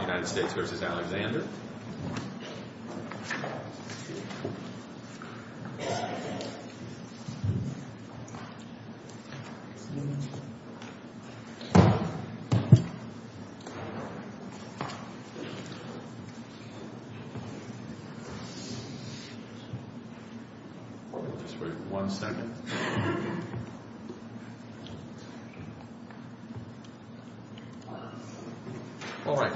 United States v. Alexander Just wait one second All right.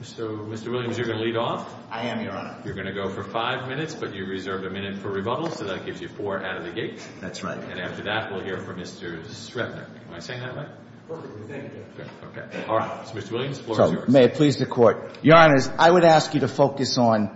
So, Mr. Williams, you're going to lead off? I am, Your Honor. You're going to go for five minutes, but you reserved a minute for rebuttal, so that gives you four out of the gate. That's right. And after that, we'll hear from Mr. Srebnick. Am I saying that right? Perfectly. Thank you. Okay. All right. So, Mr. Williams, the floor is yours. So, may it please the Court, Your Honors, I would ask you to focus on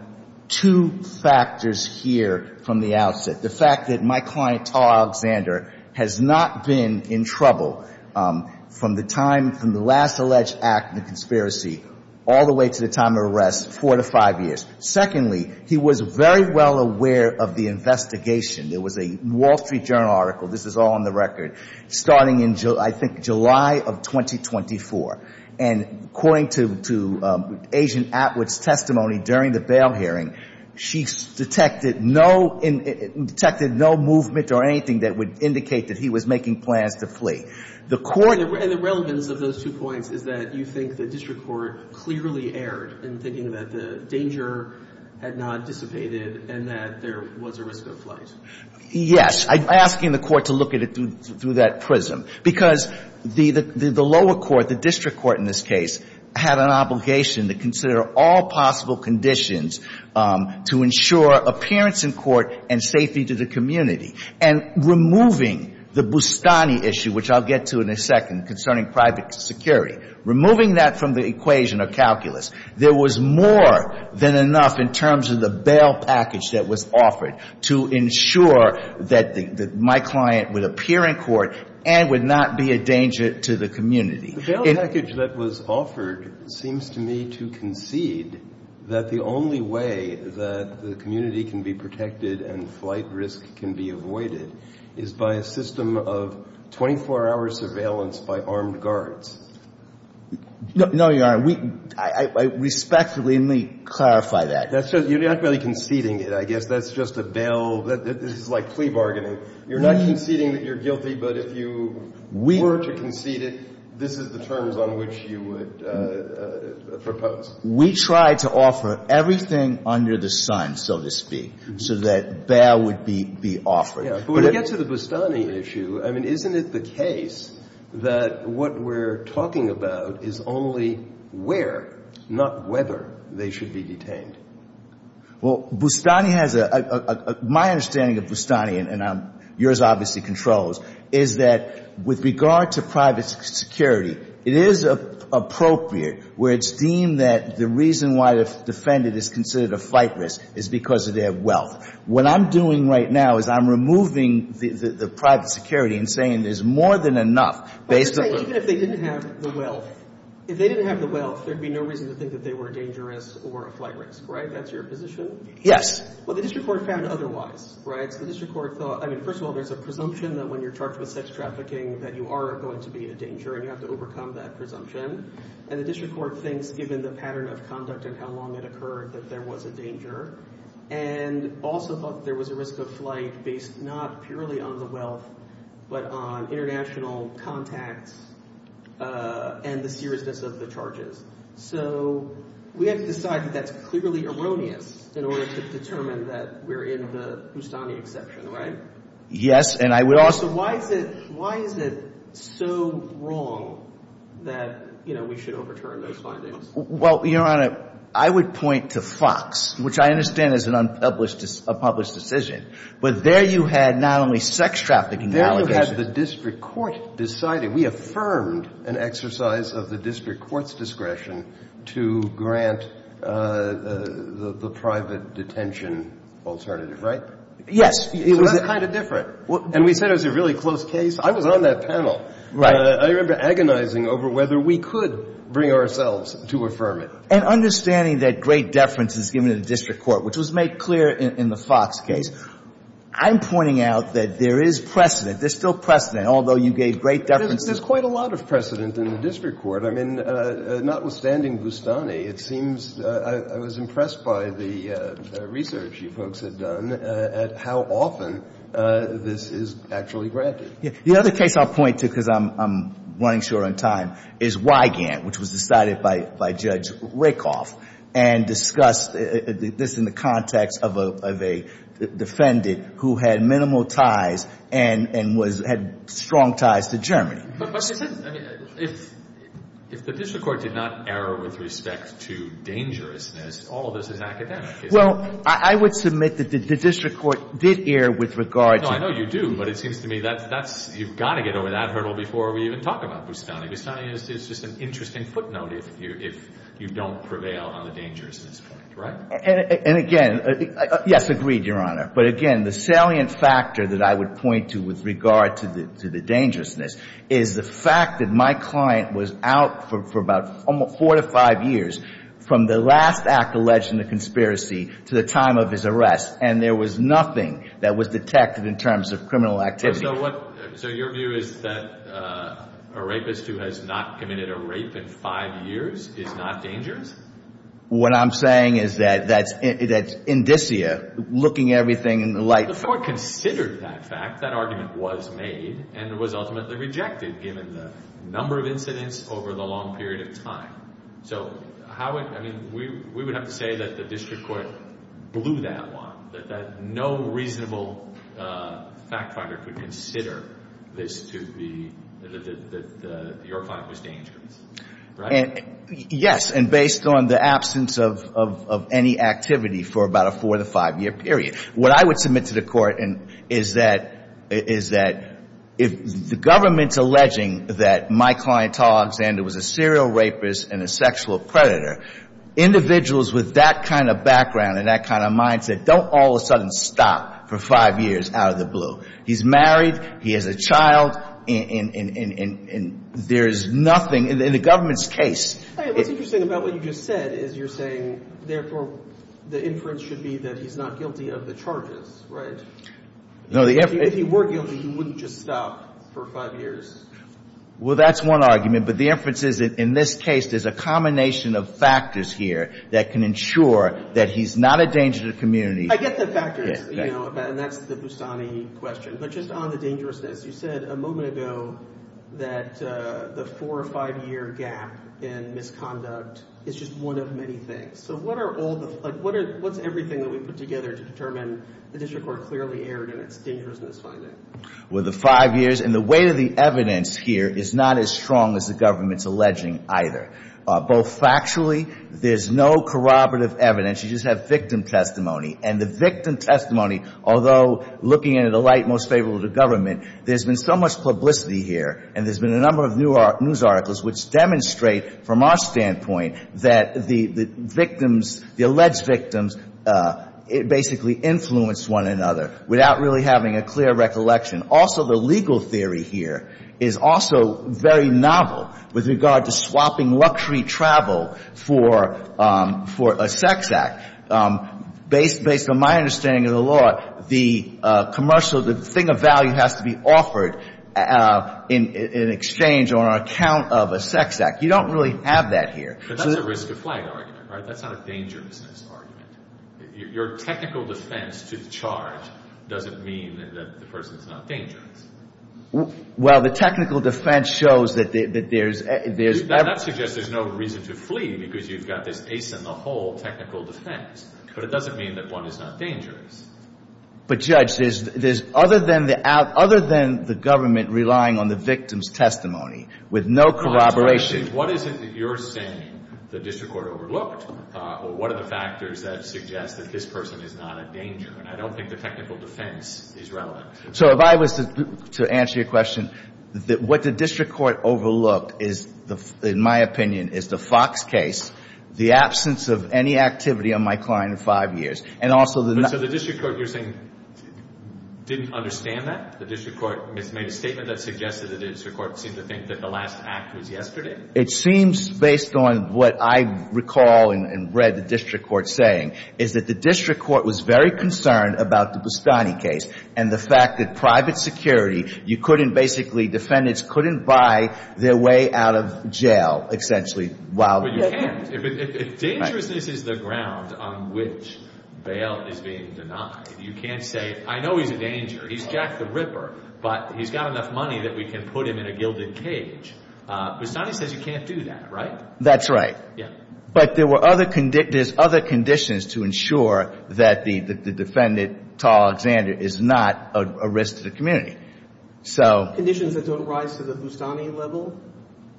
two factors here from the outset. The fact that my client, Tarr Alexander, has not been in trouble from the time, from the last alleged act, the conspiracy, all the way to the time of arrest, four to five years. Secondly, he was very well aware of the investigation. There was a Wall Street Journal article, this is all on the record, starting in, I think, July of 2024. And according to Agent Atwood's testimony during the bail hearing, she detected no movement or anything that would indicate that he was making plans to flee. And the relevance of those two points is that you think the district court clearly erred in thinking that the danger had not dissipated and that there was a risk of flight. Yes. I'm asking the Court to look at it through that prism. Because the lower court, the district court in this case, had an obligation to consider all possible conditions to ensure appearance in court and safety to the community. And removing the Boustany issue, which I'll get to in a second, concerning private security, removing that from the equation of calculus, there was more than enough in terms of the bail package that was offered to ensure that my client would appear in court and would not be a danger to the community. The bail package that was offered seems to me to concede that the only way that the community can be protected and flight risk can be avoided is by a system of 24-hour surveillance by armed guards. No, Your Honor. Respectfully, let me clarify that. You're not really conceding it, I guess. That's just a bail. This is like plea bargaining. You're not conceding that you're guilty, but if you were to concede it, this is the terms on which you would propose. We tried to offer everything under the sun, so to speak, so that bail would be offered. But when it gets to the Boustany issue, I mean, isn't it the case that what we're talking about is only where, not whether, they should be detained? Well, Boustany has a – my understanding of Boustany, and yours obviously controls, is that with regard to private security, it is appropriate where it's deemed that the reason why the defendant is considered a flight risk is because of their wealth. What I'm doing right now is I'm removing the private security and saying there's more than enough based on – Even if they didn't have the wealth, if they didn't have the wealth, there would be no reason to think that they were dangerous or a flight risk, right? That's your position? Yes. Well, the district court found otherwise, right? So the district court thought – I mean, first of all, there's a presumption that when you're charged with sex trafficking, that you are going to be a danger and you have to overcome that presumption. And the district court thinks, given the pattern of conduct and how long it occurred, that there was a danger. And also thought that there was a risk of flight based not purely on the wealth but on international contacts and the seriousness of the charges. So we have to decide that that's clearly erroneous in order to determine that we're in the Boustany exception, right? Yes, and I would also – So why is it – why is it so wrong that we should overturn those findings? Well, Your Honor, I would point to Fox, which I understand is an unpublished – a published decision. But there you had not only sex trafficking allegations – There you had the district court deciding. We affirmed an exercise of the district court's discretion to grant the private detention alternative, right? Yes. So that's kind of different. And we said it was a really close case. I was on that panel. Right. I remember agonizing over whether we could bring ourselves to affirm it. And understanding that great deference is given to the district court, which was made clear in the Fox case, I'm pointing out that there is precedent. There's still precedent, although you gave great deference. There's quite a lot of precedent in the district court. I mean, notwithstanding Boustany, it seems – I was impressed by the research you folks had done at how often this is actually granted. The other case I'll point to, because I'm running short on time, is Wigand, which was decided by Judge Rakoff, and discussed this in the context of a defendant who had minimal ties and had strong ties to Germany. But if the district court did not err with respect to dangerousness, all of this is academic. Well, I would submit that the district court did err with regard to – you've got to get over that hurdle before we even talk about Boustany. Boustany is just an interesting footnote if you don't prevail on the dangerousness point. Right? And again – yes, agreed, Your Honor. But again, the salient factor that I would point to with regard to the dangerousness is the fact that my client was out for about four to five years from the last act alleged in the conspiracy to the time of his arrest, and there was nothing that was detected in terms of criminal activity. So what – so your view is that a rapist who has not committed a rape in five years is not dangerous? What I'm saying is that that's indicia, looking everything in the light. Before it considered that fact, that argument was made and was ultimately rejected, given the number of incidents over the long period of time. So how would – I mean, we would have to say that the district court blew that one, that no reasonable fact finder could consider this to be – that your client was dangerous, right? Yes, and based on the absence of any activity for about a four- to five-year period. What I would submit to the court is that if the government's alleging that my client, Alexander, was a serial rapist and a sexual predator, individuals with that kind of background and that kind of mindset don't all of a sudden stop for five years out of the blue. He's married. He has a child. And there is nothing in the government's case. What's interesting about what you just said is you're saying, therefore, the inference should be that he's not guilty of the charges, right? No, the – If he were guilty, he wouldn't just stop for five years. Well, that's one argument. But the inference is that in this case there's a combination of factors here that can ensure that he's not a danger to the community. I get the factors, you know, and that's the Busani question. But just on the dangerousness, you said a moment ago that the four- or five-year gap in misconduct is just one of many things. So what are all the – like what's everything that we put together to determine the district court clearly erred in its dangerousness finding? Well, the five years and the weight of the evidence here is not as strong as the government's alleging either. Both factually, there's no corroborative evidence. You just have victim testimony. And the victim testimony, although looking in a light most favorable to government, there's been so much publicity here, and there's been a number of news articles which demonstrate from our standpoint that the victims, the alleged victims, basically influenced one another without really having a clear recollection. Also, the legal theory here is also very novel with regard to swapping luxury travel for a sex act. Based on my understanding of the law, the commercial – the thing of value has to be offered in exchange or on account of a sex act. You don't really have that here. But that's a risk of flag argument, right? That's not a dangerousness argument. Your technical defense to charge doesn't mean that the person's not dangerous. Well, the technical defense shows that there's – That suggests there's no reason to flee because you've got this ace-in-the-hole technical defense. But it doesn't mean that one is not dangerous. But, Judge, there's – other than the government relying on the victim's testimony with no corroboration – What is it that you're saying the district court overlooked? Or what are the factors that suggest that this person is not a danger? And I don't think the technical defense is relevant. So if I was to answer your question, what the district court overlooked is, in my opinion, is the Fox case, the absence of any activity on my client in five years, and also the – So the district court, you're saying, didn't understand that? The district court made a statement that suggested that the district court seemed to think that the last act was yesterday? It seems, based on what I recall and read the district court saying, is that the district court was very concerned about the Bustani case and the fact that private security, you couldn't basically – defendants couldn't buy their way out of jail, essentially, while – But you can't. Dangerousness is the ground on which bail is being denied. You can't say, I know he's a danger. He's Jack the Ripper, but he's got enough money that we can put him in a gilded cage. Bustani says you can't do that, right? That's right. Yeah. But there were other – there's other conditions to ensure that the defendant, Tal Alexander, is not a risk to the community. Conditions that don't rise to the Bustani level?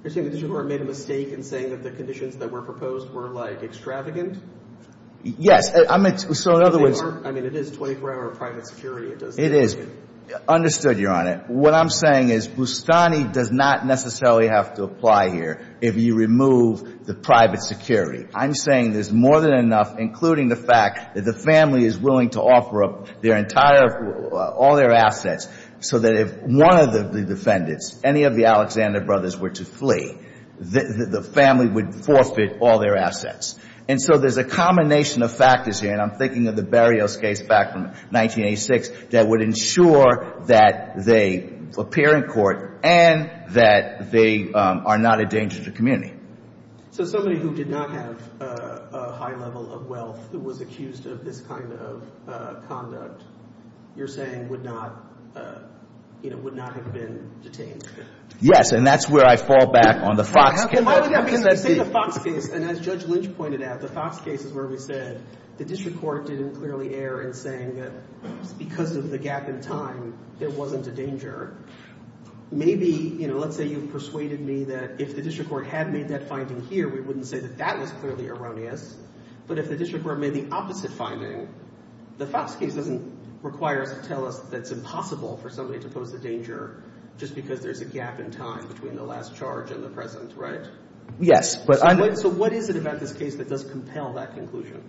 You're saying the district court made a mistake in saying that the conditions that were proposed were, like, extravagant? Yes. So in other words – I mean, it is 24-hour private security. It doesn't – Understood, Your Honor. What I'm saying is Bustani does not necessarily have to apply here if you remove the private security. I'm saying there's more than enough, including the fact that the family is willing to offer up their entire – all their assets so that if one of the defendants, any of the Alexander brothers, were to flee, the family would forfeit all their assets. And so there's a combination of factors here, and I'm thinking of the Berrios case back from 1986, that would ensure that they appear in court and that they are not a danger to the community. So somebody who did not have a high level of wealth who was accused of this kind of conduct, you're saying would not – you know, would not have been detained? Yes, and that's where I fall back on the Fox case. Why would that be? Because in the Fox case, and as Judge Lynch pointed out, the Fox case is where we said the district court didn't clearly err in saying that because of the gap in time, there wasn't a danger. Maybe, you know, let's say you've persuaded me that if the district court had made that finding here, we wouldn't say that that was clearly erroneous. But if the district court made the opposite finding, the Fox case doesn't require us to tell us that it's impossible for somebody to pose a danger just because there's a gap in time between the last charge and the present, right? Yes, but I'm – So what is it about this case that does compel that conclusion?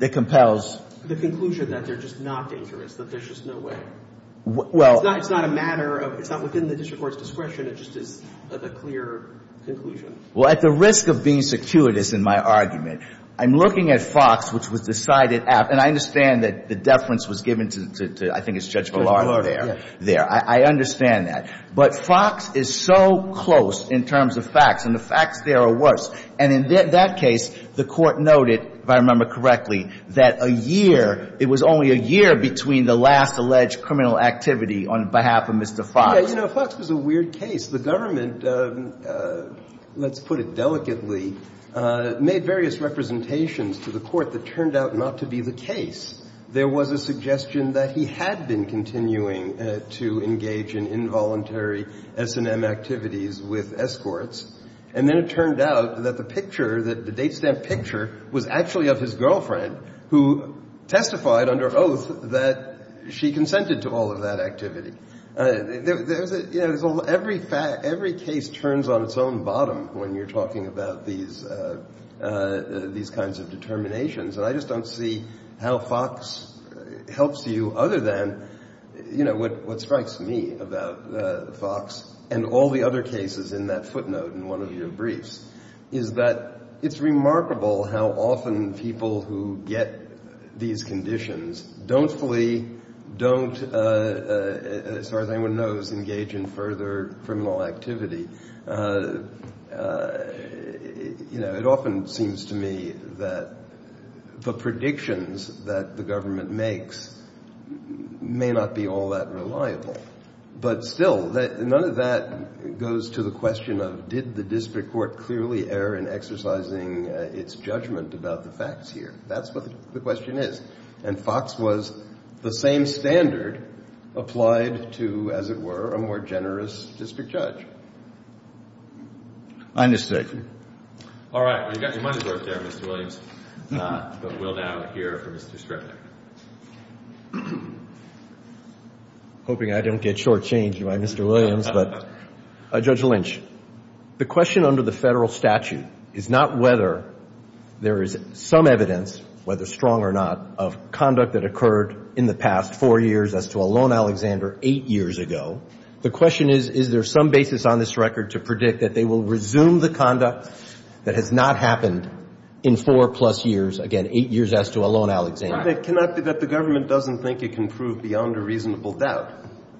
It compels – The conclusion that they're just not dangerous, that there's just no way. Well – It's not a matter of – It's not within the district court's discretion. It just is a clear conclusion. Well, at the risk of being circuitous in my argument, I'm looking at Fox, which was decided after – and I understand that the deference was given to – I think it's Judge Ballard there. Judge Ballard, yeah. I understand that. But Fox is so close in terms of facts, and the facts there are worse. And in that case, the Court noted, if I remember correctly, that a year – It was only a year between the last alleged criminal activity on behalf of Mr. Fox. Yeah, you know, Fox was a weird case. The government, let's put it delicately, made various representations to the Court that turned out not to be the case. There was a suggestion that he had been continuing to engage in involuntary S&M activities with escorts. And then it turned out that the picture, that the date stamp picture, was actually of his girlfriend who testified under oath that she consented to all of that activity. You know, every case turns on its own bottom when you're talking about these kinds of determinations. And I just don't see how Fox helps you other than, you know, what strikes me about Fox and all the other cases in that footnote and one of your briefs is that it's remarkable how often people who get these conditions don't flee, don't, as far as anyone knows, engage in further criminal activity. You know, it often seems to me that the predictions that the government makes may not be all that reliable. But still, none of that goes to the question of did the district court clearly err in exercising its judgment about the facts here. That's what the question is. And Fox was the same standard applied to, as it were, a more generous district judge. I understand. All right. You've got your money's worth there, Mr. Williams. But we'll now hear from Mr. Stripley. Hoping I don't get shortchanged by Mr. Williams, but Judge Lynch, the question under the Federal statute is not whether there is some evidence, whether strong or not, of conduct that occurred in the past four years as to Elone Alexander eight years ago. The question is, is there some basis on this record to predict that they will resume the conduct that has not happened in four-plus years, again, eight years as to Elone Alexander? It cannot be that the government doesn't think it can prove beyond a reasonable doubt.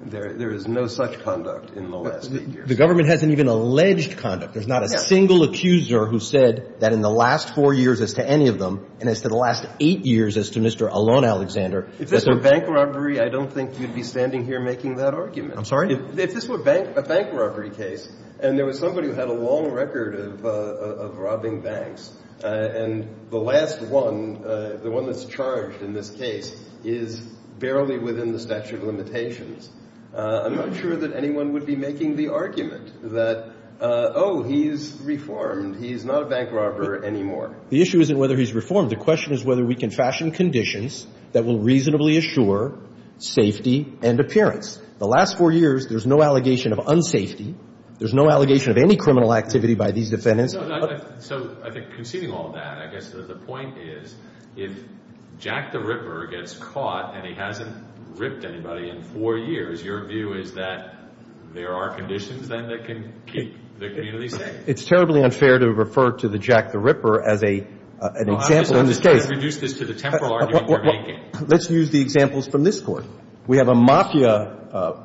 There is no such conduct in the last eight years. The government hasn't even alleged conduct. There's not a single accuser who said that in the last four years as to any of them and as to the last eight years as to Mr. Elone Alexander. If this were bank robbery, I don't think you'd be standing here making that argument. I'm sorry? If this were a bank robbery case and there was somebody who had a long record of robbing banks and the last one, the one that's charged in this case, is barely within the statute of limitations, I'm not sure that anyone would be making the argument that, oh, he's reformed, he's not a bank robber anymore. The issue isn't whether he's reformed. The question is whether we can fashion conditions that will reasonably assure safety and appearance. The last four years, there's no allegation of unsafety. There's no allegation of any criminal activity by these defendants. So I think conceding all that, I guess the point is if Jack the Ripper gets caught and he hasn't ripped anybody in four years, your view is that there are conditions then that can keep the community safe? It's terribly unfair to refer to the Jack the Ripper as an example in this case. Well, I'm just trying to reduce this to the temporal argument you're making. Let's use the examples from this court. We have a mafia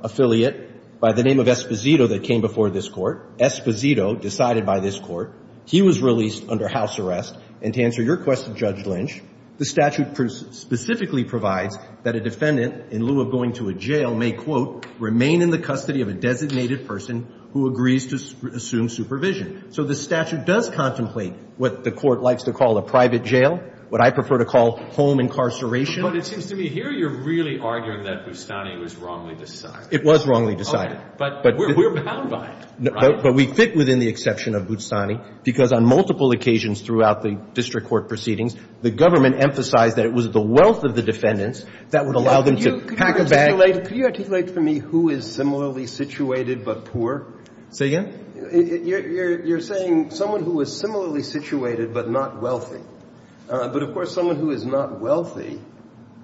affiliate by the name of Esposito that came before this court, Esposito, decided by this court. He was released under house arrest. And to answer your question, Judge Lynch, the statute specifically provides that a defendant, in lieu of going to a jail, may, quote, remain in the custody of a designated person who agrees to assume supervision. So the statute does contemplate what the court likes to call a private jail, what I prefer to call home incarceration. But it seems to me here you're really arguing that Bustani was wrongly decided. It was wrongly decided. Okay. But we're bound by it. But we fit within the exception of Bustani, because on multiple occasions throughout the district court proceedings, the government emphasized that it was the wealth of the defendants that would allow them to pack a bag. Could you articulate for me who is similarly situated but poor? Say again? You're saying someone who is similarly situated but not wealthy. But, of course, someone who is not wealthy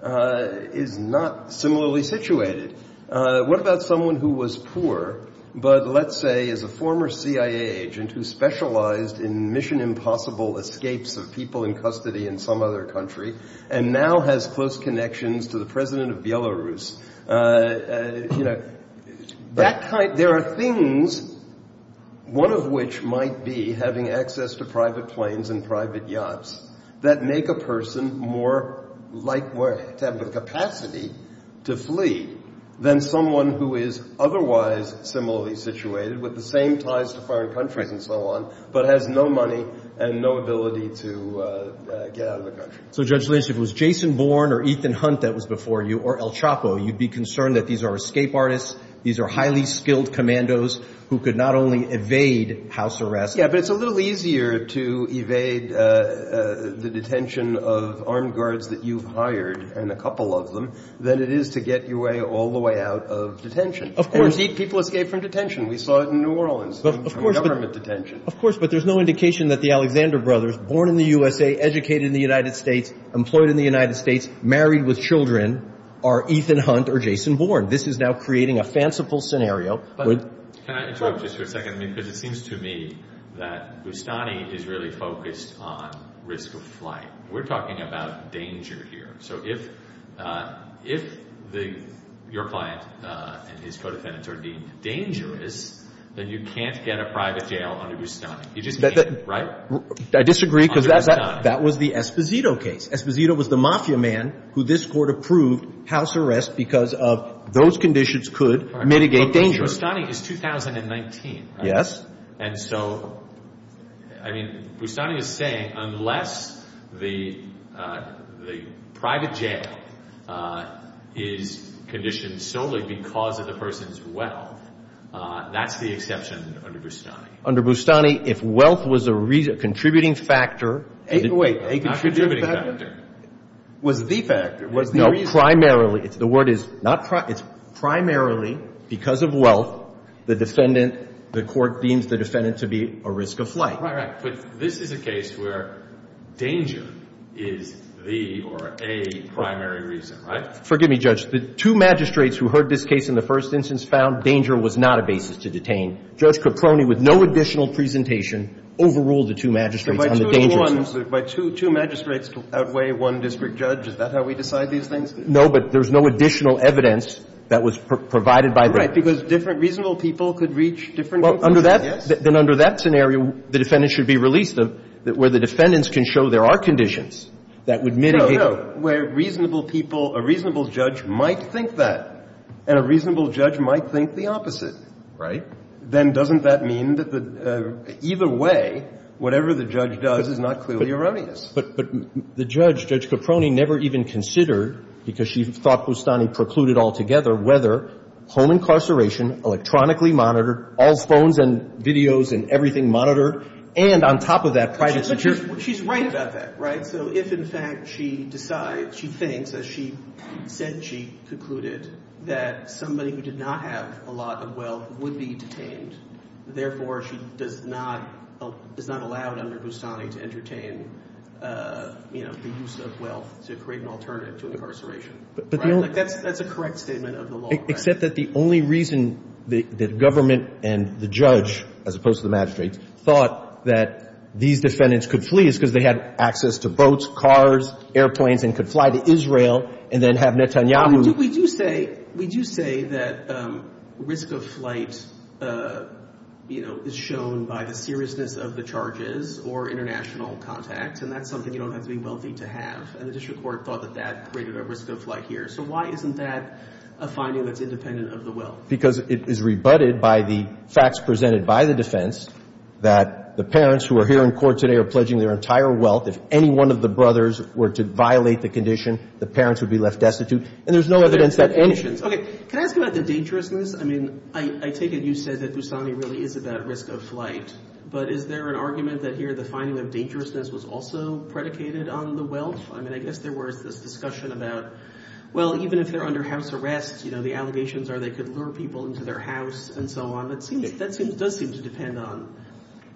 is not similarly situated. What about someone who was poor but, let's say, is a former CIA agent who specialized in mission impossible escapes of people in custody in some other country, and now has close connections to the president of Belarus? You know, that kind of – there are things, one of which might be having access to private planes and private yachts, that make a person more likely to have the capacity to flee than someone who is otherwise similarly situated with the same ties to foreign countries and so on, but has no money and no ability to get out of the country. So, Judge Linsch, if it was Jason Bourne or Ethan Hunt that was before you, or El Chapo, you'd be concerned that these are escape artists, these are highly skilled commandos who could not only evade house arrest. Yeah, but it's a little easier to evade the detention of armed guards that you've hired, and a couple of them, than it is to get your way all the way out of detention. Of course. Indeed, people escape from detention. We saw it in New Orleans. Of course. Government detention. Of course, but there's no indication that the Alexander brothers, born in the USA, educated in the United States, employed in the United States, married with children, are Ethan Hunt or Jason Bourne. This is now creating a fanciful scenario. Can I interrupt just for a second? Because it seems to me that Boustany is really focused on risk of flight. We're talking about danger here. So if your client and his co-defendants are deemed dangerous, then you can't get a private jail under Boustany. You just can't, right? I disagree because that was the Esposito case. Esposito was the mafia man who this court approved house arrest because of those conditions could mitigate danger. Boustany is 2019, right? And so, I mean, Boustany is saying, unless the private jail is conditioned solely because of the person's wealth, that's the exception under Boustany. Under Boustany, if wealth was a contributing factor. Wait, a contributing factor? Not contributing factor. Was the factor. No, primarily. The word is not primarily. It's primarily because of wealth, the defendant, the court deems the defendant to be a risk of flight. Right, right. But this is a case where danger is the or a primary reason, right? Forgive me, Judge. The two magistrates who heard this case in the first instance found danger was not a basis to detain. Judge Caproni, with no additional presentation, overruled the two magistrates on the dangers. By two magistrates to outweigh one district judge, is that how we decide these things? No, but there's no additional evidence that was provided by them. Right, because different reasonable people could reach different conclusions, yes? Then under that scenario, the defendant should be released where the defendants can show there are conditions that would mitigate. No, no. Where reasonable people, a reasonable judge might think that, and a reasonable judge might think the opposite. Right. Then doesn't that mean that either way, whatever the judge does is not clearly erroneous? But the judge, Judge Caproni, never even considered, because she thought Boustany precluded altogether, whether home incarceration, electronically monitored, all phones and videos and everything monitored, and on top of that, private security. She's right about that, right? So if, in fact, she decides, she thinks, as she said she concluded, that somebody who did not have a lot of wealth would be detained, therefore, she does not allow under Boustany to entertain, you know, the use of wealth to create an alternative to incarceration. That's a correct statement of the law. Except that the only reason the government and the judge, as opposed to the magistrates, thought that these defendants could flee is because they had access to boats, cars, airplanes, and could fly to Israel and then have Netanyahu. We do say that risk of flight, you know, is shown by the seriousness of the charges or international contact, and that's something you don't have to be wealthy to have. And the district court thought that that created a risk of flight here. So why isn't that a finding that's independent of the wealth? Because it is rebutted by the facts presented by the defense that the parents who are here in court today are pledging their entire wealth. If any one of the brothers were to violate the condition, the parents would be left destitute, and there's no evidence that any of this is true. Can I ask about the dangerousness? I mean, I take it you said that Boustany really is about risk of flight, but is there an argument that here the finding of dangerousness was also predicated on the wealth? I mean, I guess there was this discussion about, well, even if they're under house arrest, you know, the allegations are they could lure people into their house and so on. That seems to depend on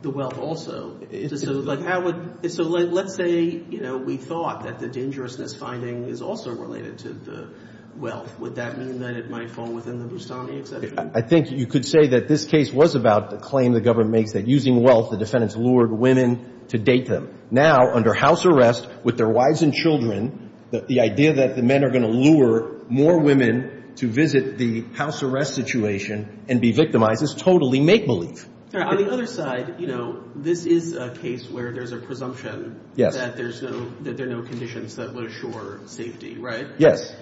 the wealth also. So like how would — so let's say, you know, we thought that the dangerousness finding is also related to the wealth. Would that mean that it might fall within the Boustany exception? I think you could say that this case was about the claim the government makes that using wealth, the defendants lured women to date them. Now, under house arrest, with their wives and children, the idea that the men are going to lure more women to visit the house arrest situation and be victimized is totally make-believe. On the other side, you know, this is a case where there's a presumption that there's no — that there are no conditions that would assure safety, right? Yes.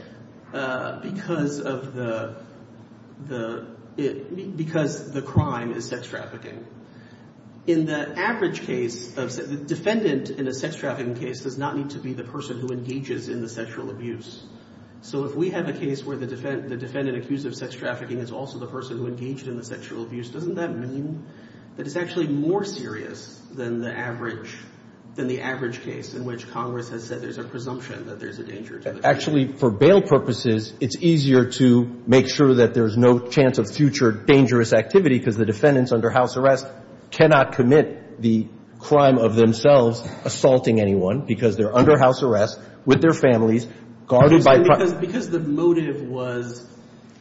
Because of the — because the crime is sex trafficking. In the average case of — the defendant in a sex trafficking case does not need to be the person who engages in the sexual abuse. So if we have a case where the defendant accused of sex trafficking is also the person who engaged in the sexual abuse, doesn't that mean that it's actually more serious than the average — than the average case in which Congress has said there's a presumption that there's a danger to the — Actually, for bail purposes, it's easier to make sure that there's no chance of future dangerous activity because the defendants under house arrest cannot commit the crime of themselves assaulting anyone because they're under house arrest with their families guarded by — Because the motive was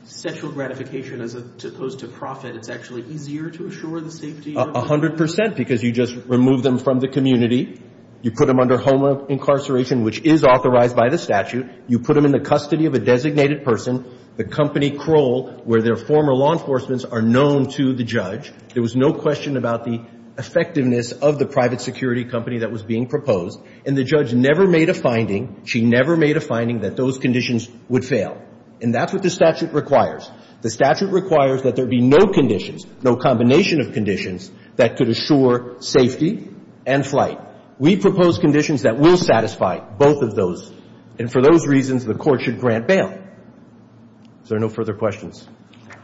sexual gratification as opposed to profit, it's actually easier to assure the safety of — And so, the statute doesn't require that you would remove them 100 percent because you just removed them from the community. You put them under home incarceration, which is authorized by the statute. You put them in the custody of a designated person. The company, Kroll, where their former law enforcements are known to the judge. There was no question about the effectiveness of the private security company that was being proposed. And the judge never made a finding — And that's what the statute requires. The statute requires that there be no conditions, no combination of conditions, that could assure safety and flight. We propose conditions that will satisfy both of those. And for those reasons, the Court should grant bail. Is there no further questions?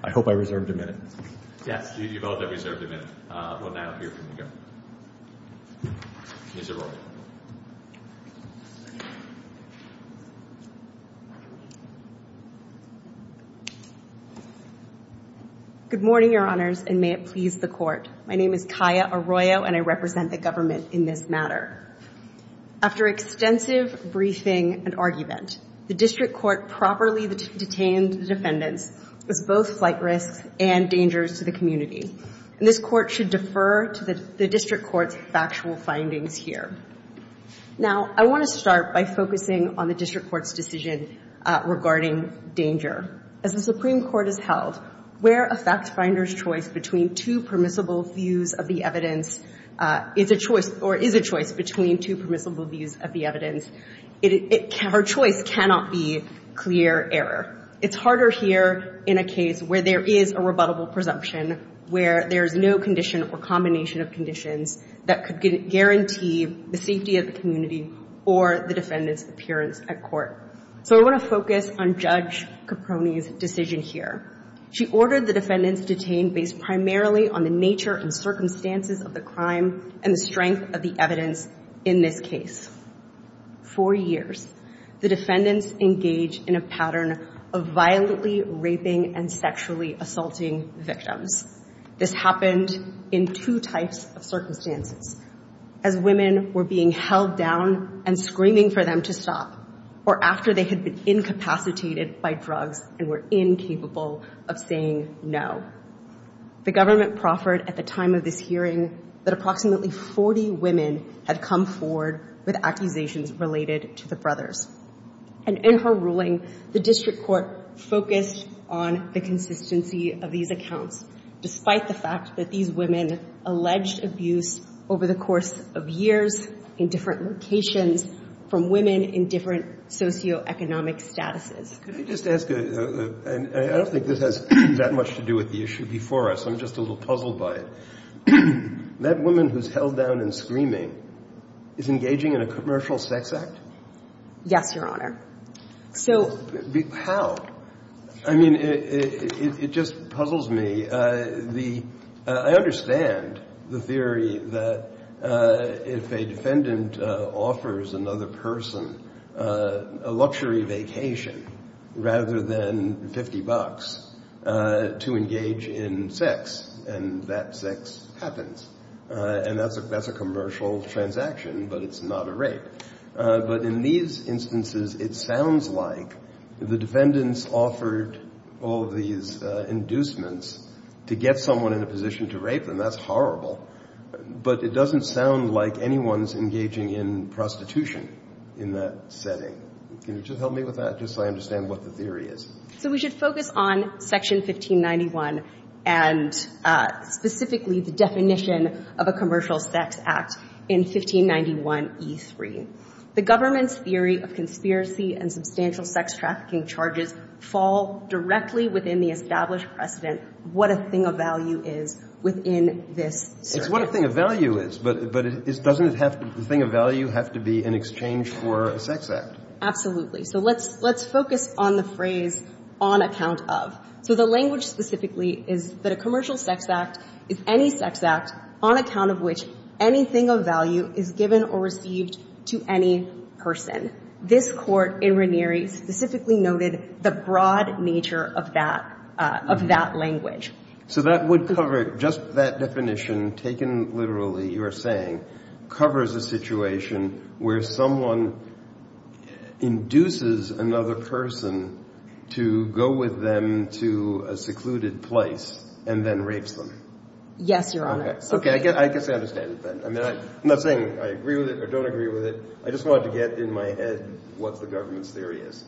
I hope I reserved a minute. Yes, you both have reserved a minute. We'll now hear from the judge. Ms. Arroyo. Good morning, Your Honors, and may it please the Court. My name is Kaya Arroyo, and I represent the government in this matter. After extensive briefing and argument, the District Court properly detained the defendants as both flight risks and dangers to the community. And this Court should defer to the District Court's factual findings here. Now, I want to start by focusing on the District Court's decision regarding danger. As the Supreme Court has held, where a factfinder's choice between two permissible views of the evidence is a choice — or is a choice between two permissible views of the evidence, our choice cannot be clear error. It's harder here in a case where there is a rebuttable presumption, where there is no condition or combination of conditions that could guarantee the safety of the community or the defendant's appearance at court. So I want to focus on Judge Caproni's decision here. She ordered the defendants detained based primarily on the nature and circumstances of the crime and the strength of the evidence in this case. For years, the defendants engaged in a pattern of violently raping and sexually assaulting victims. This happened in two types of circumstances. As women were being held down and screaming for them to stop, or after they had been incapacitated by drugs and were incapable of saying no. The government proffered at the time of this hearing that approximately 40 women had come forward with accusations related to the brothers. And in her ruling, the district court focused on the consistency of these accounts, despite the fact that these women alleged abuse over the course of years in different locations from women in different socioeconomic statuses. Can I just ask — and I don't think this has that much to do with the issue before us. I'm just a little puzzled by it. That woman who's held down and screaming is engaging in a commercial sex act? Yes, Your Honor. So — How? I mean, it just puzzles me. The — I understand the theory that if a defendant offers another person a luxury vacation rather than 50 bucks to engage in sex, and that sex happens. And that's a commercial transaction, but it's not a rape. But in these instances, it sounds like the defendants offered all of these inducements to get someone in a position to rape them. That's horrible. But it doesn't sound like anyone's engaging in prostitution in that setting. Can you just help me with that, just so I understand what the theory is? So we should focus on Section 1591 and specifically the definition of a commercial sex act in 1591e3. The government's theory of conspiracy and substantial sex trafficking charges fall directly within the established precedent, what a thing of value is within this setting. It's what a thing of value is, but doesn't it have — the thing of value have to be in exchange for a sex act? So let's — let's focus on the phrase on account of. So the language specifically is that a commercial sex act is any sex act on account of which anything of value is given or received to any person. This Court in Ranieri specifically noted the broad nature of that — of that language. So that would cover — just that definition taken literally, you are saying, covers a situation where someone induces another person to go with them to a secluded place and then rapes them? Yes, Your Honor. Okay. I guess I understand that. I mean, I'm not saying I agree with it or don't agree with it. I just wanted to get in my head what the government's theory is.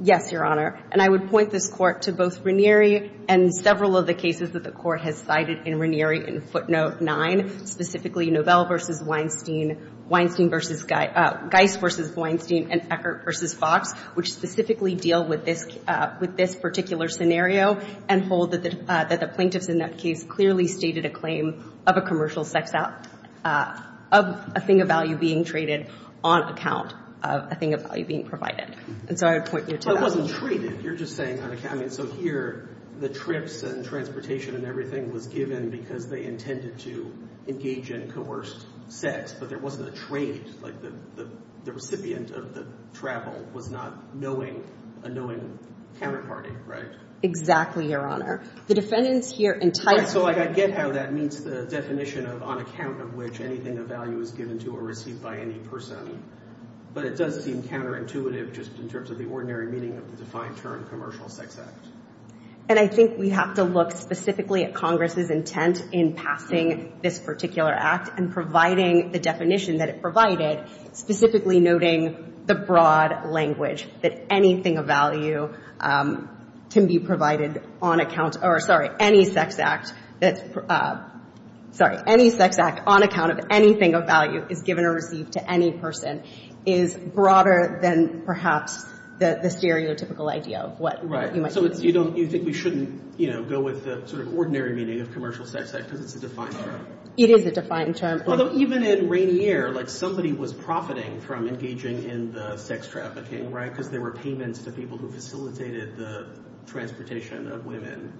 Yes, Your Honor. And I would point this Court to both Ranieri and several of the cases that the Court has cited in Ranieri in footnote 9, specifically Novell v. Weinstein — Weinstein v. — Geist v. Weinstein and Eckert v. Fox, which specifically deal with this — with this particular scenario and hold that the — that the plaintiffs in that case clearly stated a claim of a commercial sex act — of a thing of value being traded on account of a thing of value being provided. And so I would point you to that. But it wasn't traded. You're just saying on account — I mean, so here, the trips and transportation and everything was given because they intended to engage in coerced sex, but there wasn't a trade. Like, the recipient of the travel was not knowing — a knowing counterparty, right? Exactly, Your Honor. The defendants here entitled — Right. So, like, I get how that meets the definition of on account of which anything of value is given to or received by any person. But it does seem counterintuitive just in terms of the ordinary meaning of the defined term commercial sex act. And I think we have to look specifically at Congress's intent in passing this particular act and providing the definition that it provided, specifically noting the broad language that anything of value can be provided on account — or, sorry, any sex act that's — sorry, any sex act on account of anything of value is given or received to any person is broader than perhaps the stereotypical idea of what you might — So it's — you don't — you think we shouldn't, you know, go with the sort of ordinary meaning of commercial sex act because it's a defined term? It is a defined term. Although, even in Rainier, like, somebody was profiting from engaging in the sex trafficking, right, because there were payments to people who facilitated the transportation of women.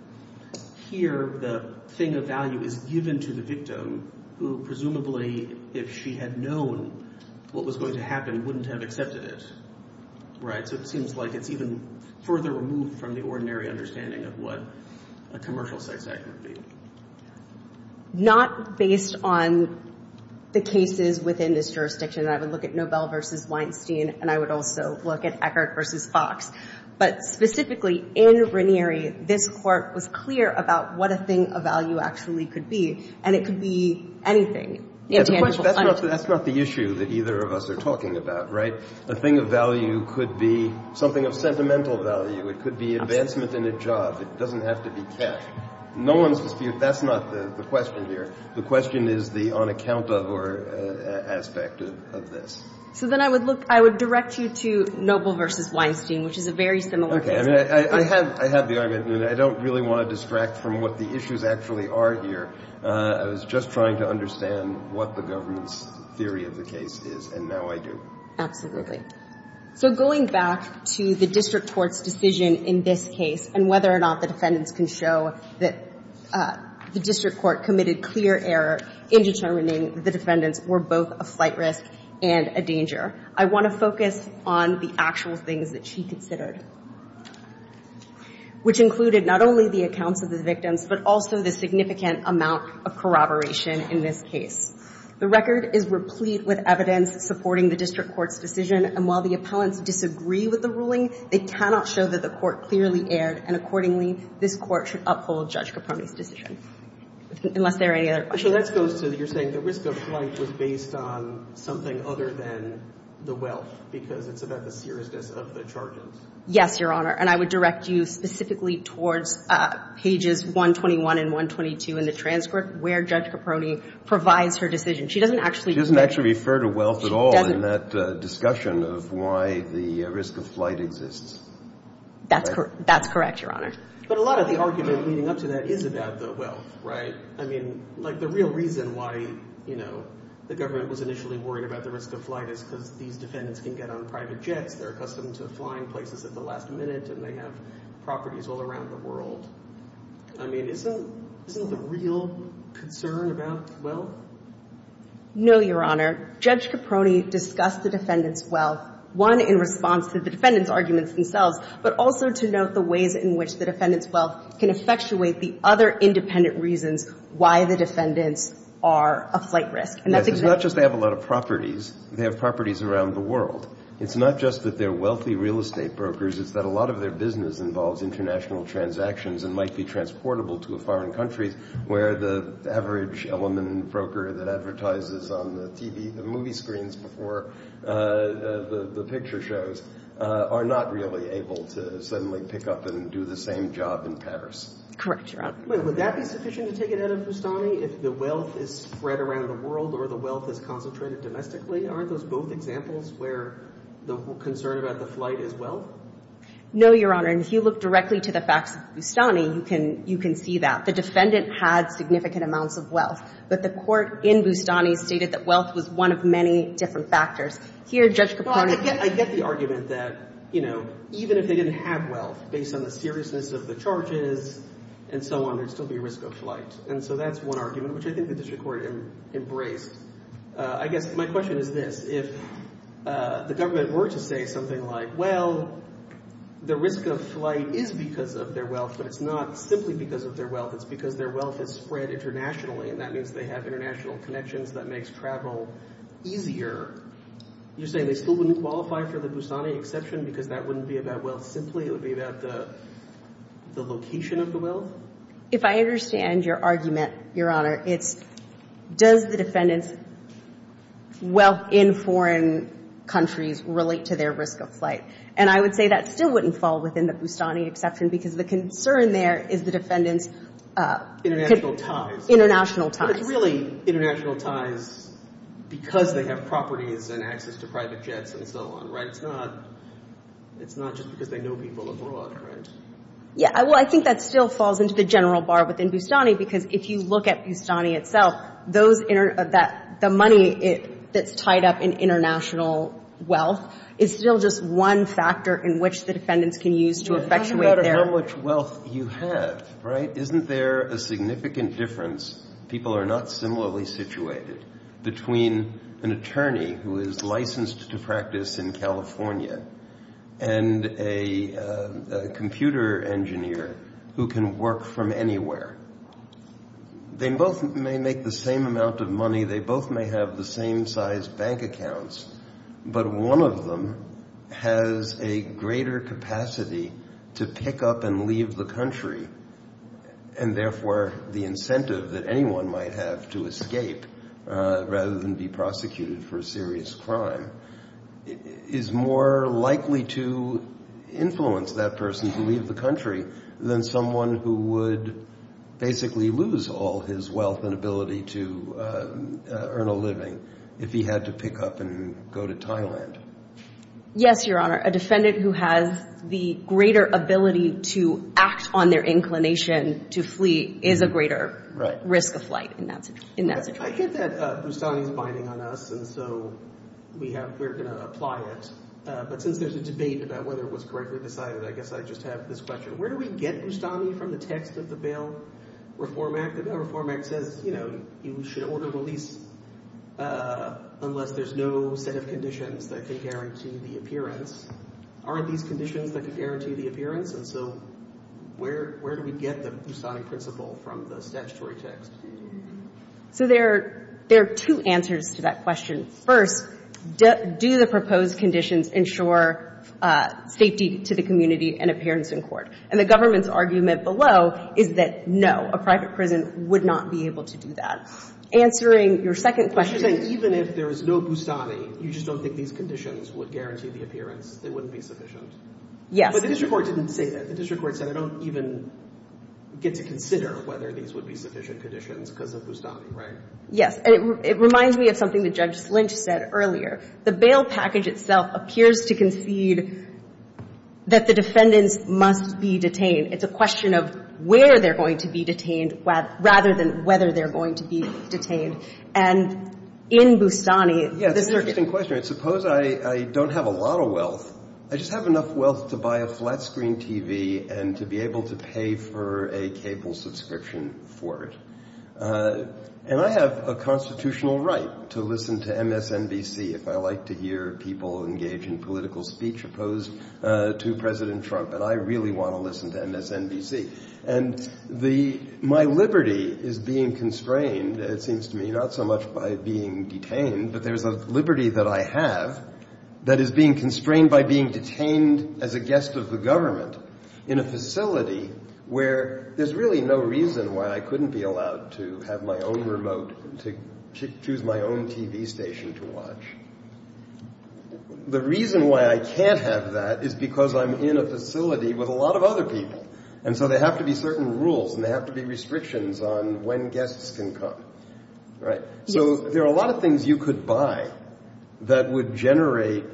Here, the thing of value is given to the victim who, presumably, if she had known what was going to happen, wouldn't have accepted it. Right? So it seems like it's even further removed from the ordinary understanding of what a commercial sex act would be. Not based on the cases within this jurisdiction. I would look at Nobel v. Weinstein, and I would also look at Eckert v. Fox. But specifically, in Rainier, this Court was clear about what a thing of value actually could be. And it could be anything. That's not the issue that either of us are talking about, right? A thing of value could be something of sentimental value. It could be advancement in a job. It doesn't have to be cash. No one's disputed — that's not the question here. The question is the on account of or aspect of this. So then I would look — I would direct you to Nobel v. Weinstein, which is a very similar case. Okay. I mean, I have the argument. I don't really want to distract from what the issues actually are here. I was just trying to understand what the government's theory of the case is, and now I do. Absolutely. So going back to the district court's decision in this case and whether or not the defendants can show that the district court committed clear error in determining the defendants were both a flight risk and a danger, I want to focus on the actual things that she considered, which included not only the accounts of the victims, but also the significant amount of corroboration in this case. The record is replete with evidence supporting the district court's decision, and while the appellants disagree with the ruling, they cannot show that the court clearly erred, and accordingly, this court should uphold Judge Capone's decision, unless there are any other questions. So that goes to your saying the risk of flight was based on something other than the wealth, because it's about the seriousness of the charges. Yes, Your Honor. And I would direct you specifically towards pages 121 and 122 in the transcript where Judge Capone provides her decision. She doesn't actually get it. She doesn't actually refer to wealth at all in that discussion of why the risk of flight exists. That's correct, Your Honor. But a lot of the argument leading up to that is about the wealth, right? I mean, like the real reason why, you know, the government was initially worried about the risk of flight is because these defendants can get on private jets. They're accustomed to flying places at the last minute, and they have properties all around the world. I mean, isn't the real concern about wealth? No, Your Honor. Judge Capone discussed the defendant's wealth, one, in response to the defendant's arguments themselves, but also to note the ways in which the defendant's wealth can effectuate the other independent reasons why the defendants are a flight risk. And that's exactly the case. Yes, it's not just they have a lot of properties. They have properties around the world. It's not just that they're wealthy real estate brokers. It's that a lot of their business involves international transactions and might be transportable to a foreign country where the average element broker that advertises on the TV, the movie screens before the picture shows, are not really able to suddenly pick up and do the same job in Paris. Correct, Your Honor. Well, would that be sufficient to take it out of Boustany if the wealth is spread around the world or the wealth is concentrated domestically? Aren't those both examples where the concern about the flight is wealth? No, Your Honor. And if you look directly to the facts of Boustany, you can see that. The defendant had significant amounts of wealth, but the court in Boustany stated that wealth was one of many different factors. Here, Judge Capone can – I get the argument that, you know, even if they didn't have wealth, based on the seriousness of the charges and so on, there'd still be risk of flight. And so that's one argument, which I think the district court embraced. I guess my question is this. If the government were to say something like, well, the risk of flight is because of their wealth, but it's not simply because of their wealth. It's because their wealth is spread internationally, and that means they have international connections. That makes travel easier. You're saying they still wouldn't qualify for the Boustany exception because that wouldn't be about wealth simply? It would be about the location of the wealth? If I understand your argument, Your Honor, it's does the defendant's wealth in foreign countries relate to their risk of flight? And I would say that still wouldn't fall within the Boustany exception because the concern there is the defendant's – International ties. International ties. But it's really international ties because they have properties and access to private jets and so on, right? It's not just because they know people abroad, right? Yeah. Well, I think that still falls into the general bar within Boustany because if you look at Boustany itself, those – the money that's tied up in international wealth is still just one factor in which the defendants can use to effectuate their – So it depends on how much wealth you have, right? Isn't there a significant difference – people are not similarly situated – between an attorney who is licensed to practice in California and a computer engineer who can work from anywhere? They both may make the same amount of money. They both may have the same size bank accounts, but one of them has a greater capacity to pick up and leave the country and therefore the incentive that anyone might have to escape rather than be prosecuted for a serious crime is more likely to influence that person to leave the country than someone who would basically lose all his wealth and ability to earn a living if he had to pick up and go to Thailand. Yes, Your Honor. A defendant who has the greater ability to act on their inclination to flee is a greater risk of flight in that situation. I get that Boustany is binding on us and so we're going to apply it, but since there's a debate about whether it was correctly decided, I guess I just have this question. Where do we get Boustany from the text of the bail reform act? The reform act says you should order release unless there's no set of conditions that can guarantee the appearance. Are these conditions that can guarantee the appearance? And so where do we get the Boustany principle from the statutory text? So there are two answers to that question. First, do the proposed conditions ensure safety to the community and appearance in court? And the government's argument below is that no, a private prison would not be able to do that. Answering your second question. Even if there is no Boustany, you just don't think these conditions would guarantee the appearance. They wouldn't be sufficient. Yes. But the district court didn't say that. The district court said I don't even get to consider whether these would be sufficient conditions because of Boustany, right? Yes. And it reminds me of something that Judge Lynch said earlier. The bail package itself appears to concede that the defendants must be detained. It's a question of where they're going to be detained rather than whether they're going to be detained. And in Boustany, the district court. It's an interesting question. Suppose I don't have a lot of wealth. I just have enough wealth to buy a flat screen TV and to be able to pay for a cable subscription for it. And I have a constitutional right to listen to MSNBC if I like to hear people engage in political speech opposed to President Trump. And I really want to listen to MSNBC. And my liberty is being constrained. It seems to me not so much by being detained, but there's a liberty that I have that is being constrained by being detained as a guest of the government in a facility where there's really no reason why I couldn't be allowed to have my own remote to choose my own TV station to watch. The reason why I can't have that is because I'm in a facility with a lot of other people. And so they have to be certain rules and they have to be restrictions on when guests can come. Right? So there are a lot of things you could buy that would generate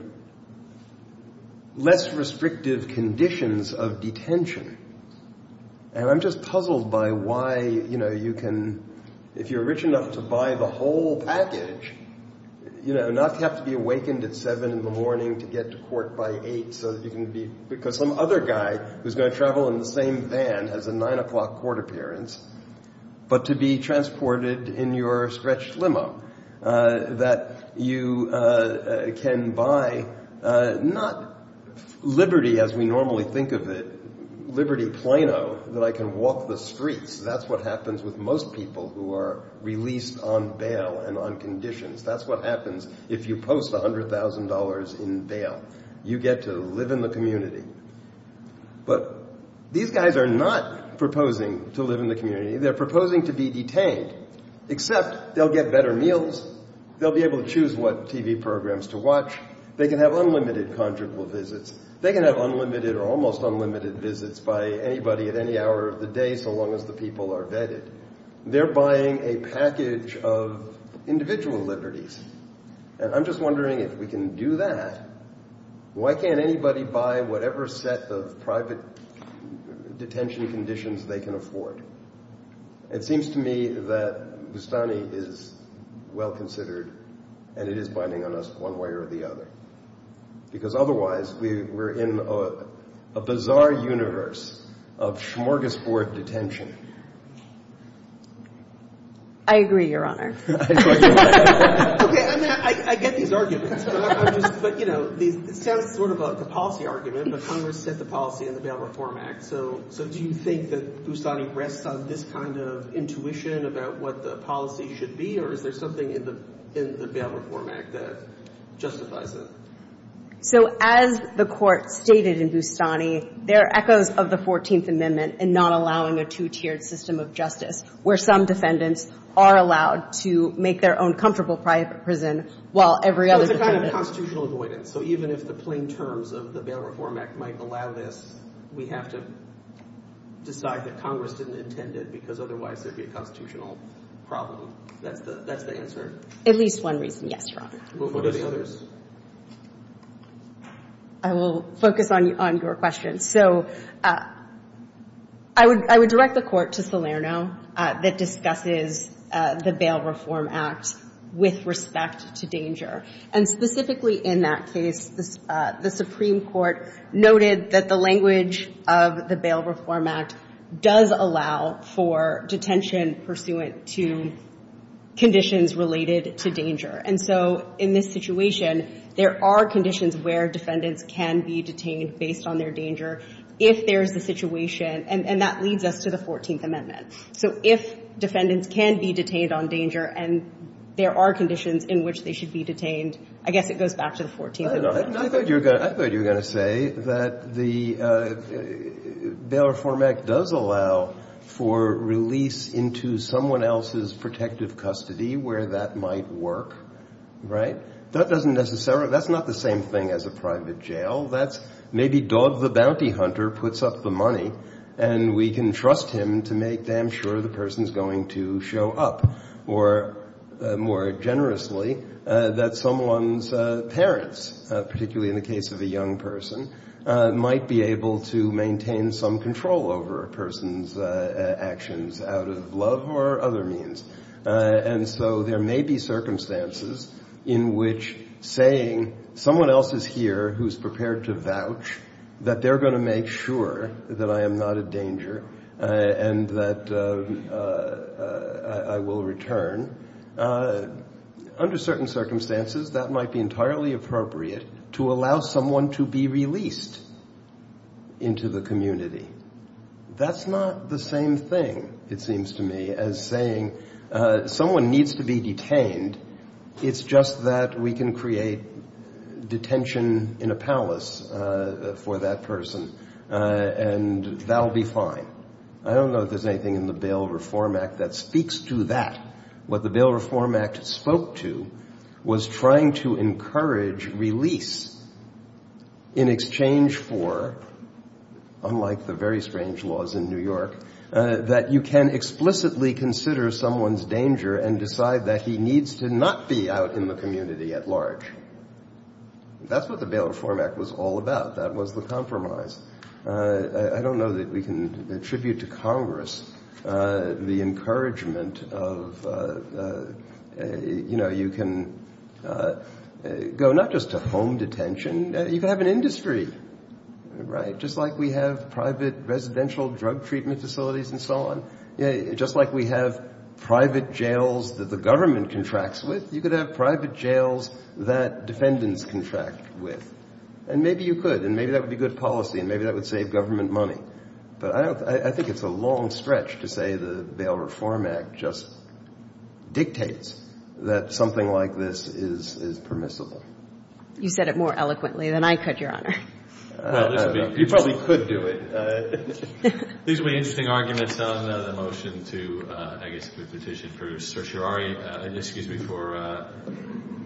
less restrictive conditions of detention. And I'm just puzzled by why, you know, you can, if you're rich enough to buy the whole package, you know, not have to be awakened at 7 in the morning to get to court by 8 so that you can be, because some other guy who's going to travel in the same van has a 9 o'clock court appearance, but to be transported in your stretched limo. That you can buy not liberty as we normally think of it, liberty Plano that I can walk the streets. That's what happens with most people who are released on bail and on conditions. That's what happens if you post $100,000 in bail, you get to live in the community. But these guys are not proposing to live in the community. They're proposing to be detained, except they'll get better meals. They'll be able to choose what TV programs to watch. They can have unlimited conjugal visits. They can have unlimited or almost unlimited visits by anybody at any hour of the day so long as the people are vetted. They're buying a package of individual liberties. And I'm just wondering if we can do that. Why can't anybody buy whatever set of private detention conditions they can afford? It seems to me that Bustani is well considered and it is binding on us one way or the other. Because otherwise we're in a bizarre universe of smorgasbord detention. I agree, Your Honor. Okay, I get these arguments. But, you know, it sounds sort of like a policy argument, but Congress set the policy in the Bail Reform Act. So do you think that Bustani rests on this kind of intuition about what the policy should be? Or is there something in the Bail Reform Act that justifies it? So as the Court stated in Bustani, there are echoes of the 14th Amendment and not allowing a two-tiered system of justice where some defendants are allowed to make their own comfortable prison while every other defendant— It's a kind of constitutional avoidance. So even if the plain terms of the Bail Reform Act might allow this, we have to decide that Congress didn't intend it because otherwise there'd be a constitutional problem. That's the answer? At least one reason, yes, Your Honor. What are the others? I will focus on your question. So I would direct the Court to Salerno that discusses the Bail Reform Act with respect to danger. And specifically in that case, the Supreme Court noted that the language of the Bail Reform Act does allow for detention pursuant to conditions related to danger. And so in this situation, there are conditions where defendants can be detained based on their danger if there is a situation. And that leads us to the 14th Amendment. So if defendants can be detained on danger and there are conditions in which they should be detained, I guess it goes back to the 14th Amendment. I thought you were going to say that the Bail Reform Act does allow for release into someone else's protective custody where that might work, right? That's not the same thing as a private jail. That's maybe Dog the Bounty Hunter puts up the money, and we can trust him to make damn sure the person's going to show up, or more generously, that someone's parents, particularly in the case of a young person, might be able to maintain some control over a person's actions out of love or other means. And so there may be circumstances in which saying someone else is here who's prepared to vouch, that they're going to make sure that I am not a danger and that I will return. Under certain circumstances, that might be entirely appropriate to allow someone to be released into the community. That's not the same thing, it seems to me, as saying someone needs to be detained. It's just that we can create detention in a palace for that person, and that will be fine. I don't know if there's anything in the Bail Reform Act that speaks to that. What the Bail Reform Act spoke to was trying to encourage release in exchange for, unlike the very strange laws in New York, that you can explicitly consider someone's danger and decide that he needs to not be out in the community at large. That's what the Bail Reform Act was all about. That was the compromise. I don't know that we can attribute to Congress the encouragement of, you know, you can go not just to home detention, you can have an industry, right, just like we have private residential drug treatment facilities and so on, just like we have private jails that the government contracts with, you could have private jails that defendants contract with. And maybe you could, and maybe that would be good policy, and maybe that would save government money. But I think it's a long stretch to say the Bail Reform Act just dictates that something like this is permissible. You said it more eloquently than I could, Your Honor. You probably could do it. These would be interesting arguments on the motion to, I guess, the petition for certiorari and, excuse me, for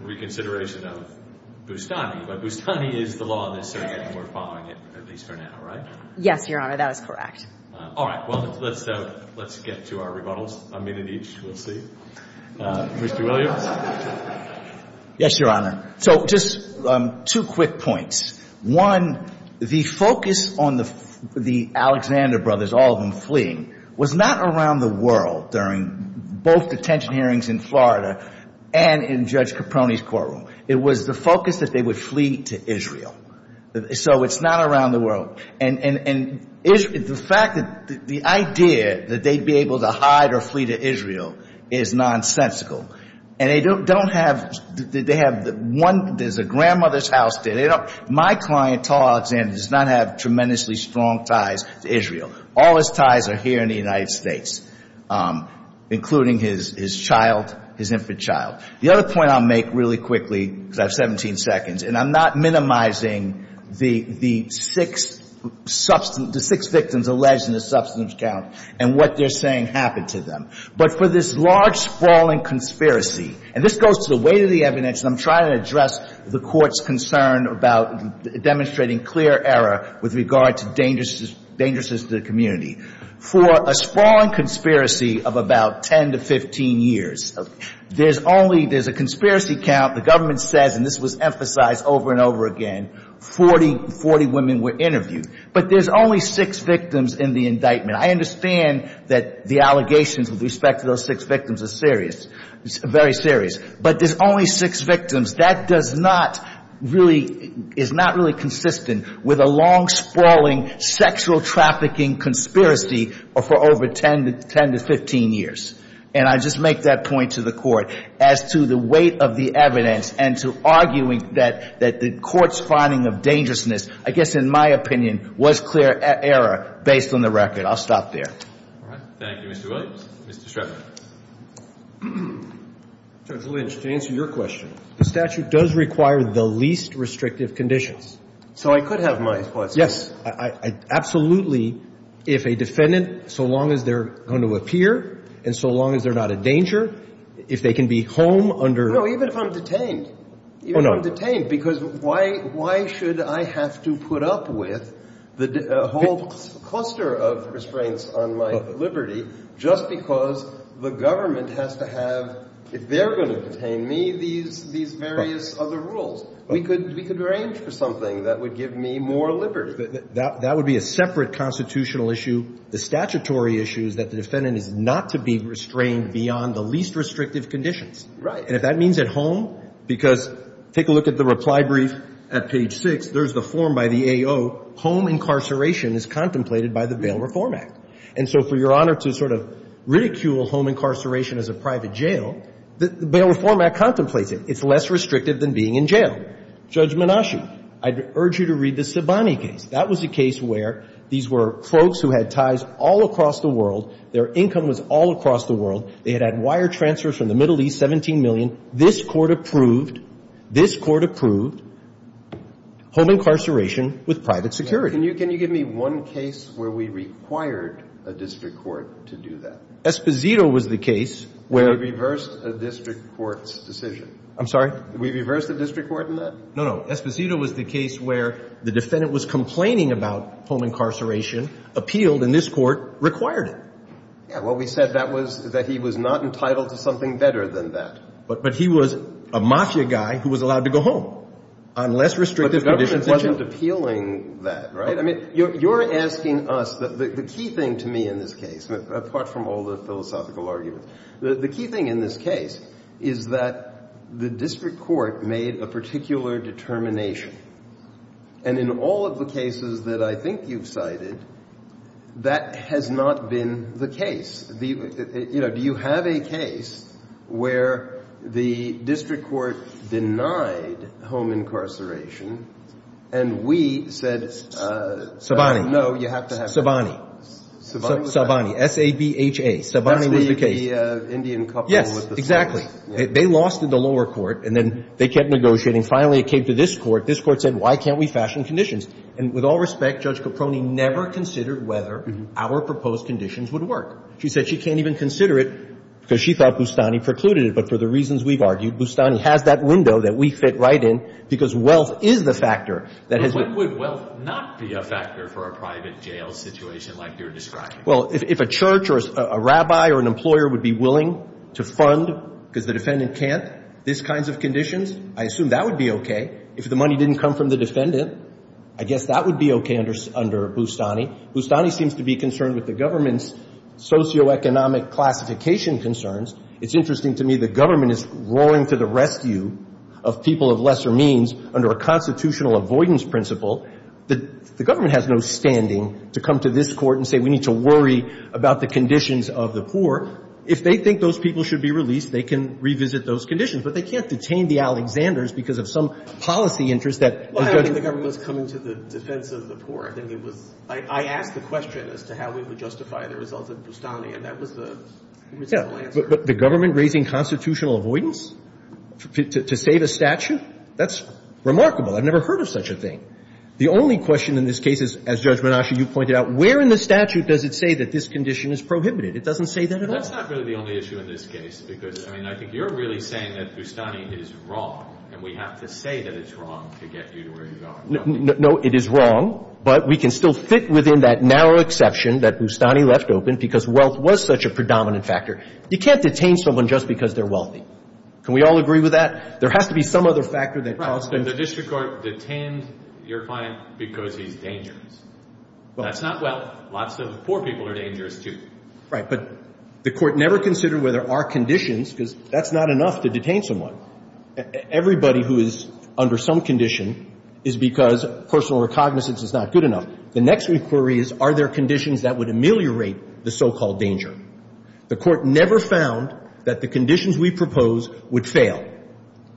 reconsideration of Boustany. But Boustany is the law in this circuit, and we're following it, at least for now, right? Yes, Your Honor. That is correct. All right. Well, let's get to our rebuttals. A minute each, we'll see. Mr. Williams? Yes, Your Honor. So just two quick points. One, the focus on the Alexander brothers, all of them fleeing, was not around the world during both detention hearings in Florida and in Judge Caproni's courtroom. It was the focus that they would flee to Israel. So it's not around the world. And the fact that the idea that they'd be able to hide or flee to Israel is nonsensical. And they don't have, they have one, there's a grandmother's house there. They don't, my client, tall Alexander, does not have tremendously strong ties to Israel. All his ties are here in the United States, including his child, his infant child. The other point I'll make really quickly, because I have 17 seconds, and I'm not minimizing the six victims alleged in the substance count and what they're saying happened to them. But for this large, sprawling conspiracy, and this goes to the weight of the evidence, and I'm trying to address the Court's concern about demonstrating clear error with regard to dangerousness to the community. For a sprawling conspiracy of about 10 to 15 years, there's only, there's a conspiracy count. The government says, and this was emphasized over and over again, 40 women were interviewed. But there's only six victims in the indictment. I understand that the allegations with respect to those six victims are serious, very serious. But there's only six victims. That does not really, is not really consistent with a long, sprawling sexual trafficking conspiracy for over 10 to 15 years. And I just make that point to the Court as to the weight of the evidence and to arguing that the Court's finding of dangerousness, I guess in my opinion, was clear error based on the record. I'll stop there. All right. Thank you, Mr. Williams. Mr. Streffer. Judge Lynch, to answer your question, the statute does require the least restrictive conditions. So I could have my response. Yes. Absolutely. If a defendant, so long as they're going to appear and so long as they're not a danger, if they can be home under... No, even if I'm detained. Oh, no. Because why should I have to put up with the whole cluster of restraints on my liberty just because the government has to have, if they're going to detain me, these various other rules? We could arrange for something that would give me more liberty. That would be a separate constitutional issue. The statutory issue is that the defendant is not to be restrained beyond the least restrictive conditions. Right. And if that means at home, because take a look at the reply brief at page 6. There's the form by the AO. Home incarceration is contemplated by the Bail Reform Act. And so for Your Honor to sort of ridicule home incarceration as a private jail, the Bail Reform Act contemplates it. It's less restrictive than being in jail. Judge Menashi, I'd urge you to read the Sibani case. That was a case where these were folks who had ties all across the world. Their income was all across the world. They had had wire transfers from the Middle East, 17 million. This Court approved, this Court approved home incarceration with private security. Can you give me one case where we required a district court to do that? Esposito was the case where we reversed a district court's decision. I'm sorry? We reversed a district court in that? No, no. Esposito was the case where the defendant was complaining about home incarceration, appealed, and this Court required it. Well, we said that he was not entitled to something better than that. But he was a mafia guy who was allowed to go home unless restrictive conditions were met. But the government wasn't appealing that, right? I mean, you're asking us. The key thing to me in this case, apart from all the philosophical arguments, the key thing in this case is that the district court made a particular determination. And in all of the cases that I think you've cited, that has not been the case. You know, do you have a case where the district court denied home incarceration and we said, no, you have to have that? Sabani. Sabani. S-A-B-H-A. Sabani was the case. That's the Indian couple with the phone. Yes, exactly. They lost in the lower court, and then they kept negotiating. And then finally it came to this Court. This Court said, why can't we fashion conditions? And with all respect, Judge Caproni never considered whether our proposed conditions would work. She said she can't even consider it because she thought Bustani precluded it. But for the reasons we've argued, Bustani has that window that we fit right in because wealth is the factor. But what would wealth not be a factor for a private jail situation like you're describing? Well, if a church or a rabbi or an employer would be willing to fund, because the defendant can't, these kinds of conditions, I assume that would be okay. If the money didn't come from the defendant, I guess that would be okay under Bustani. Bustani seems to be concerned with the government's socioeconomic classification concerns. It's interesting to me the government is roaring to the rescue of people of lesser means under a constitutional avoidance principle. The government has no standing to come to this Court and say we need to worry about the conditions of the poor. If they think those people should be released, they can revisit those conditions. But they can't detain the Alexanders because of some policy interest that the judge Well, I don't think the government was coming to the defense of the poor. I think it was – I asked the question as to how we would justify the results of Bustani, and that was the reasonable answer. But the government raising constitutional avoidance to save a statute? That's remarkable. I've never heard of such a thing. The only question in this case is, as Judge Menasca, you pointed out, where in the statute does it say that this condition is prohibited? It doesn't say that at all? That's not really the only issue in this case because, I mean, I think you're really saying that Bustani is wrong, and we have to say that it's wrong to get you to where you are. No, it is wrong, but we can still fit within that narrow exception that Bustani left open because wealth was such a predominant factor. You can't detain someone just because they're wealthy. Can we all agree with that? There has to be some other factor that caused them to The district court detained your client because he's dangerous. That's not wealth. Lots of poor people are dangerous, too. But the Court never considered whether there are conditions, because that's not enough to detain someone. Everybody who is under some condition is because personal recognizance is not good enough. The next inquiry is, are there conditions that would ameliorate the so-called danger? The Court never found that the conditions we propose would fail.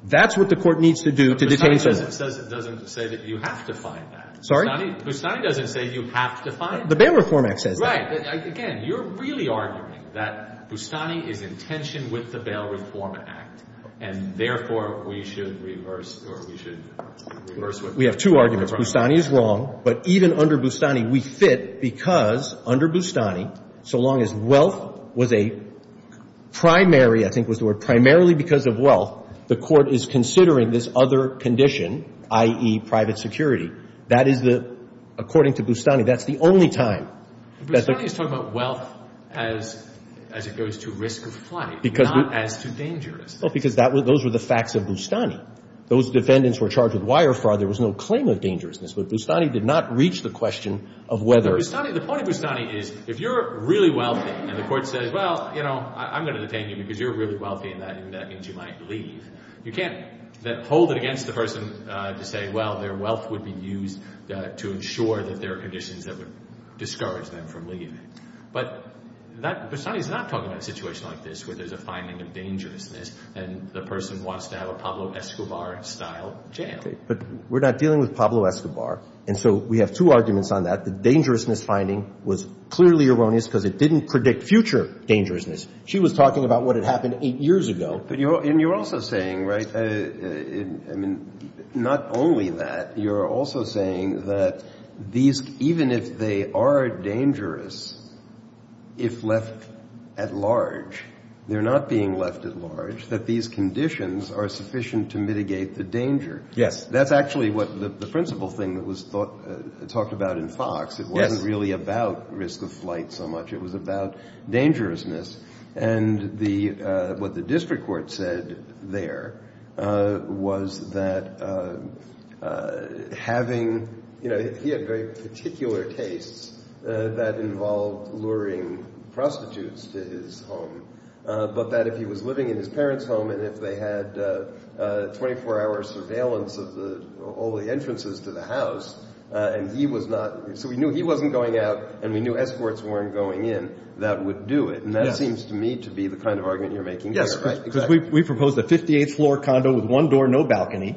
That's what the Court needs to do to detain someone. Bustani doesn't say that you have to find that. Sorry? Bustani doesn't say you have to find that. The Bail Reform Act says that. Right. Again, you're really arguing that Bustani is in tension with the Bail Reform Act, and therefore, we should reverse or we should reverse what Bustani said. We have two arguments. Bustani is wrong. But even under Bustani, we fit because under Bustani, so long as wealth was a primary I think was the word, primarily because of wealth, the Court is considering this other condition, i.e., private security. That is the, according to Bustani, that's the only time. Bustani is talking about wealth as it goes to risk of flight, not as to dangerous. Well, because those were the facts of Bustani. Those defendants were charged with wire fraud. There was no claim of dangerousness. But Bustani did not reach the question of whether. The point of Bustani is if you're really wealthy and the Court says, well, you know, I'm going to detain you because you're really wealthy and that means you might leave, you can't hold it against the person to say, well, their wealth would be used to ensure that there are conditions that would discourage them from leaving. But Bustani is not talking about a situation like this where there's a finding of dangerousness and the person wants to have a Pablo Escobar-style jail. But we're not dealing with Pablo Escobar. And so we have two arguments on that. The dangerousness finding was clearly erroneous because it didn't predict future dangerousness. She was talking about what had happened eight years ago. But you're also saying, right, I mean, not only that. You're also saying that these, even if they are dangerous, if left at large, they're not being left at large, that these conditions are sufficient to mitigate the danger. Yes. That's actually what the principle thing that was talked about in Fox. It wasn't really about risk of flight so much. It was about dangerousness. And what the district court said there was that having, you know, he had very particular tastes that involved luring prostitutes to his home. But that if he was living in his parents' home and if they had 24-hour surveillance of all the entrances to the house and he was not, so we knew he wasn't going out and we knew escorts weren't going in, that would do it. And that seems to me to be the kind of argument you're making there. Because we proposed a 58th floor condo with one door, no balcony.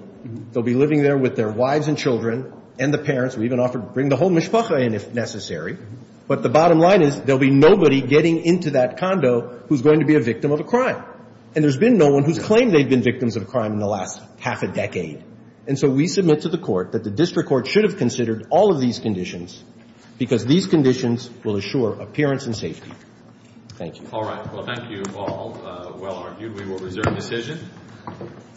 They'll be living there with their wives and children and the parents. We even offered to bring the whole mishpacha in if necessary. But the bottom line is there'll be nobody getting into that condo who's going to be a victim of a crime. And there's been no one who's claimed they've been victims of a crime in the last half a decade. And so we submit to the court that the district court should have considered all of these conditions because these conditions will assure appearance and safety. Thank you. All right. Well, thank you all. Well argued. We will reserve decision.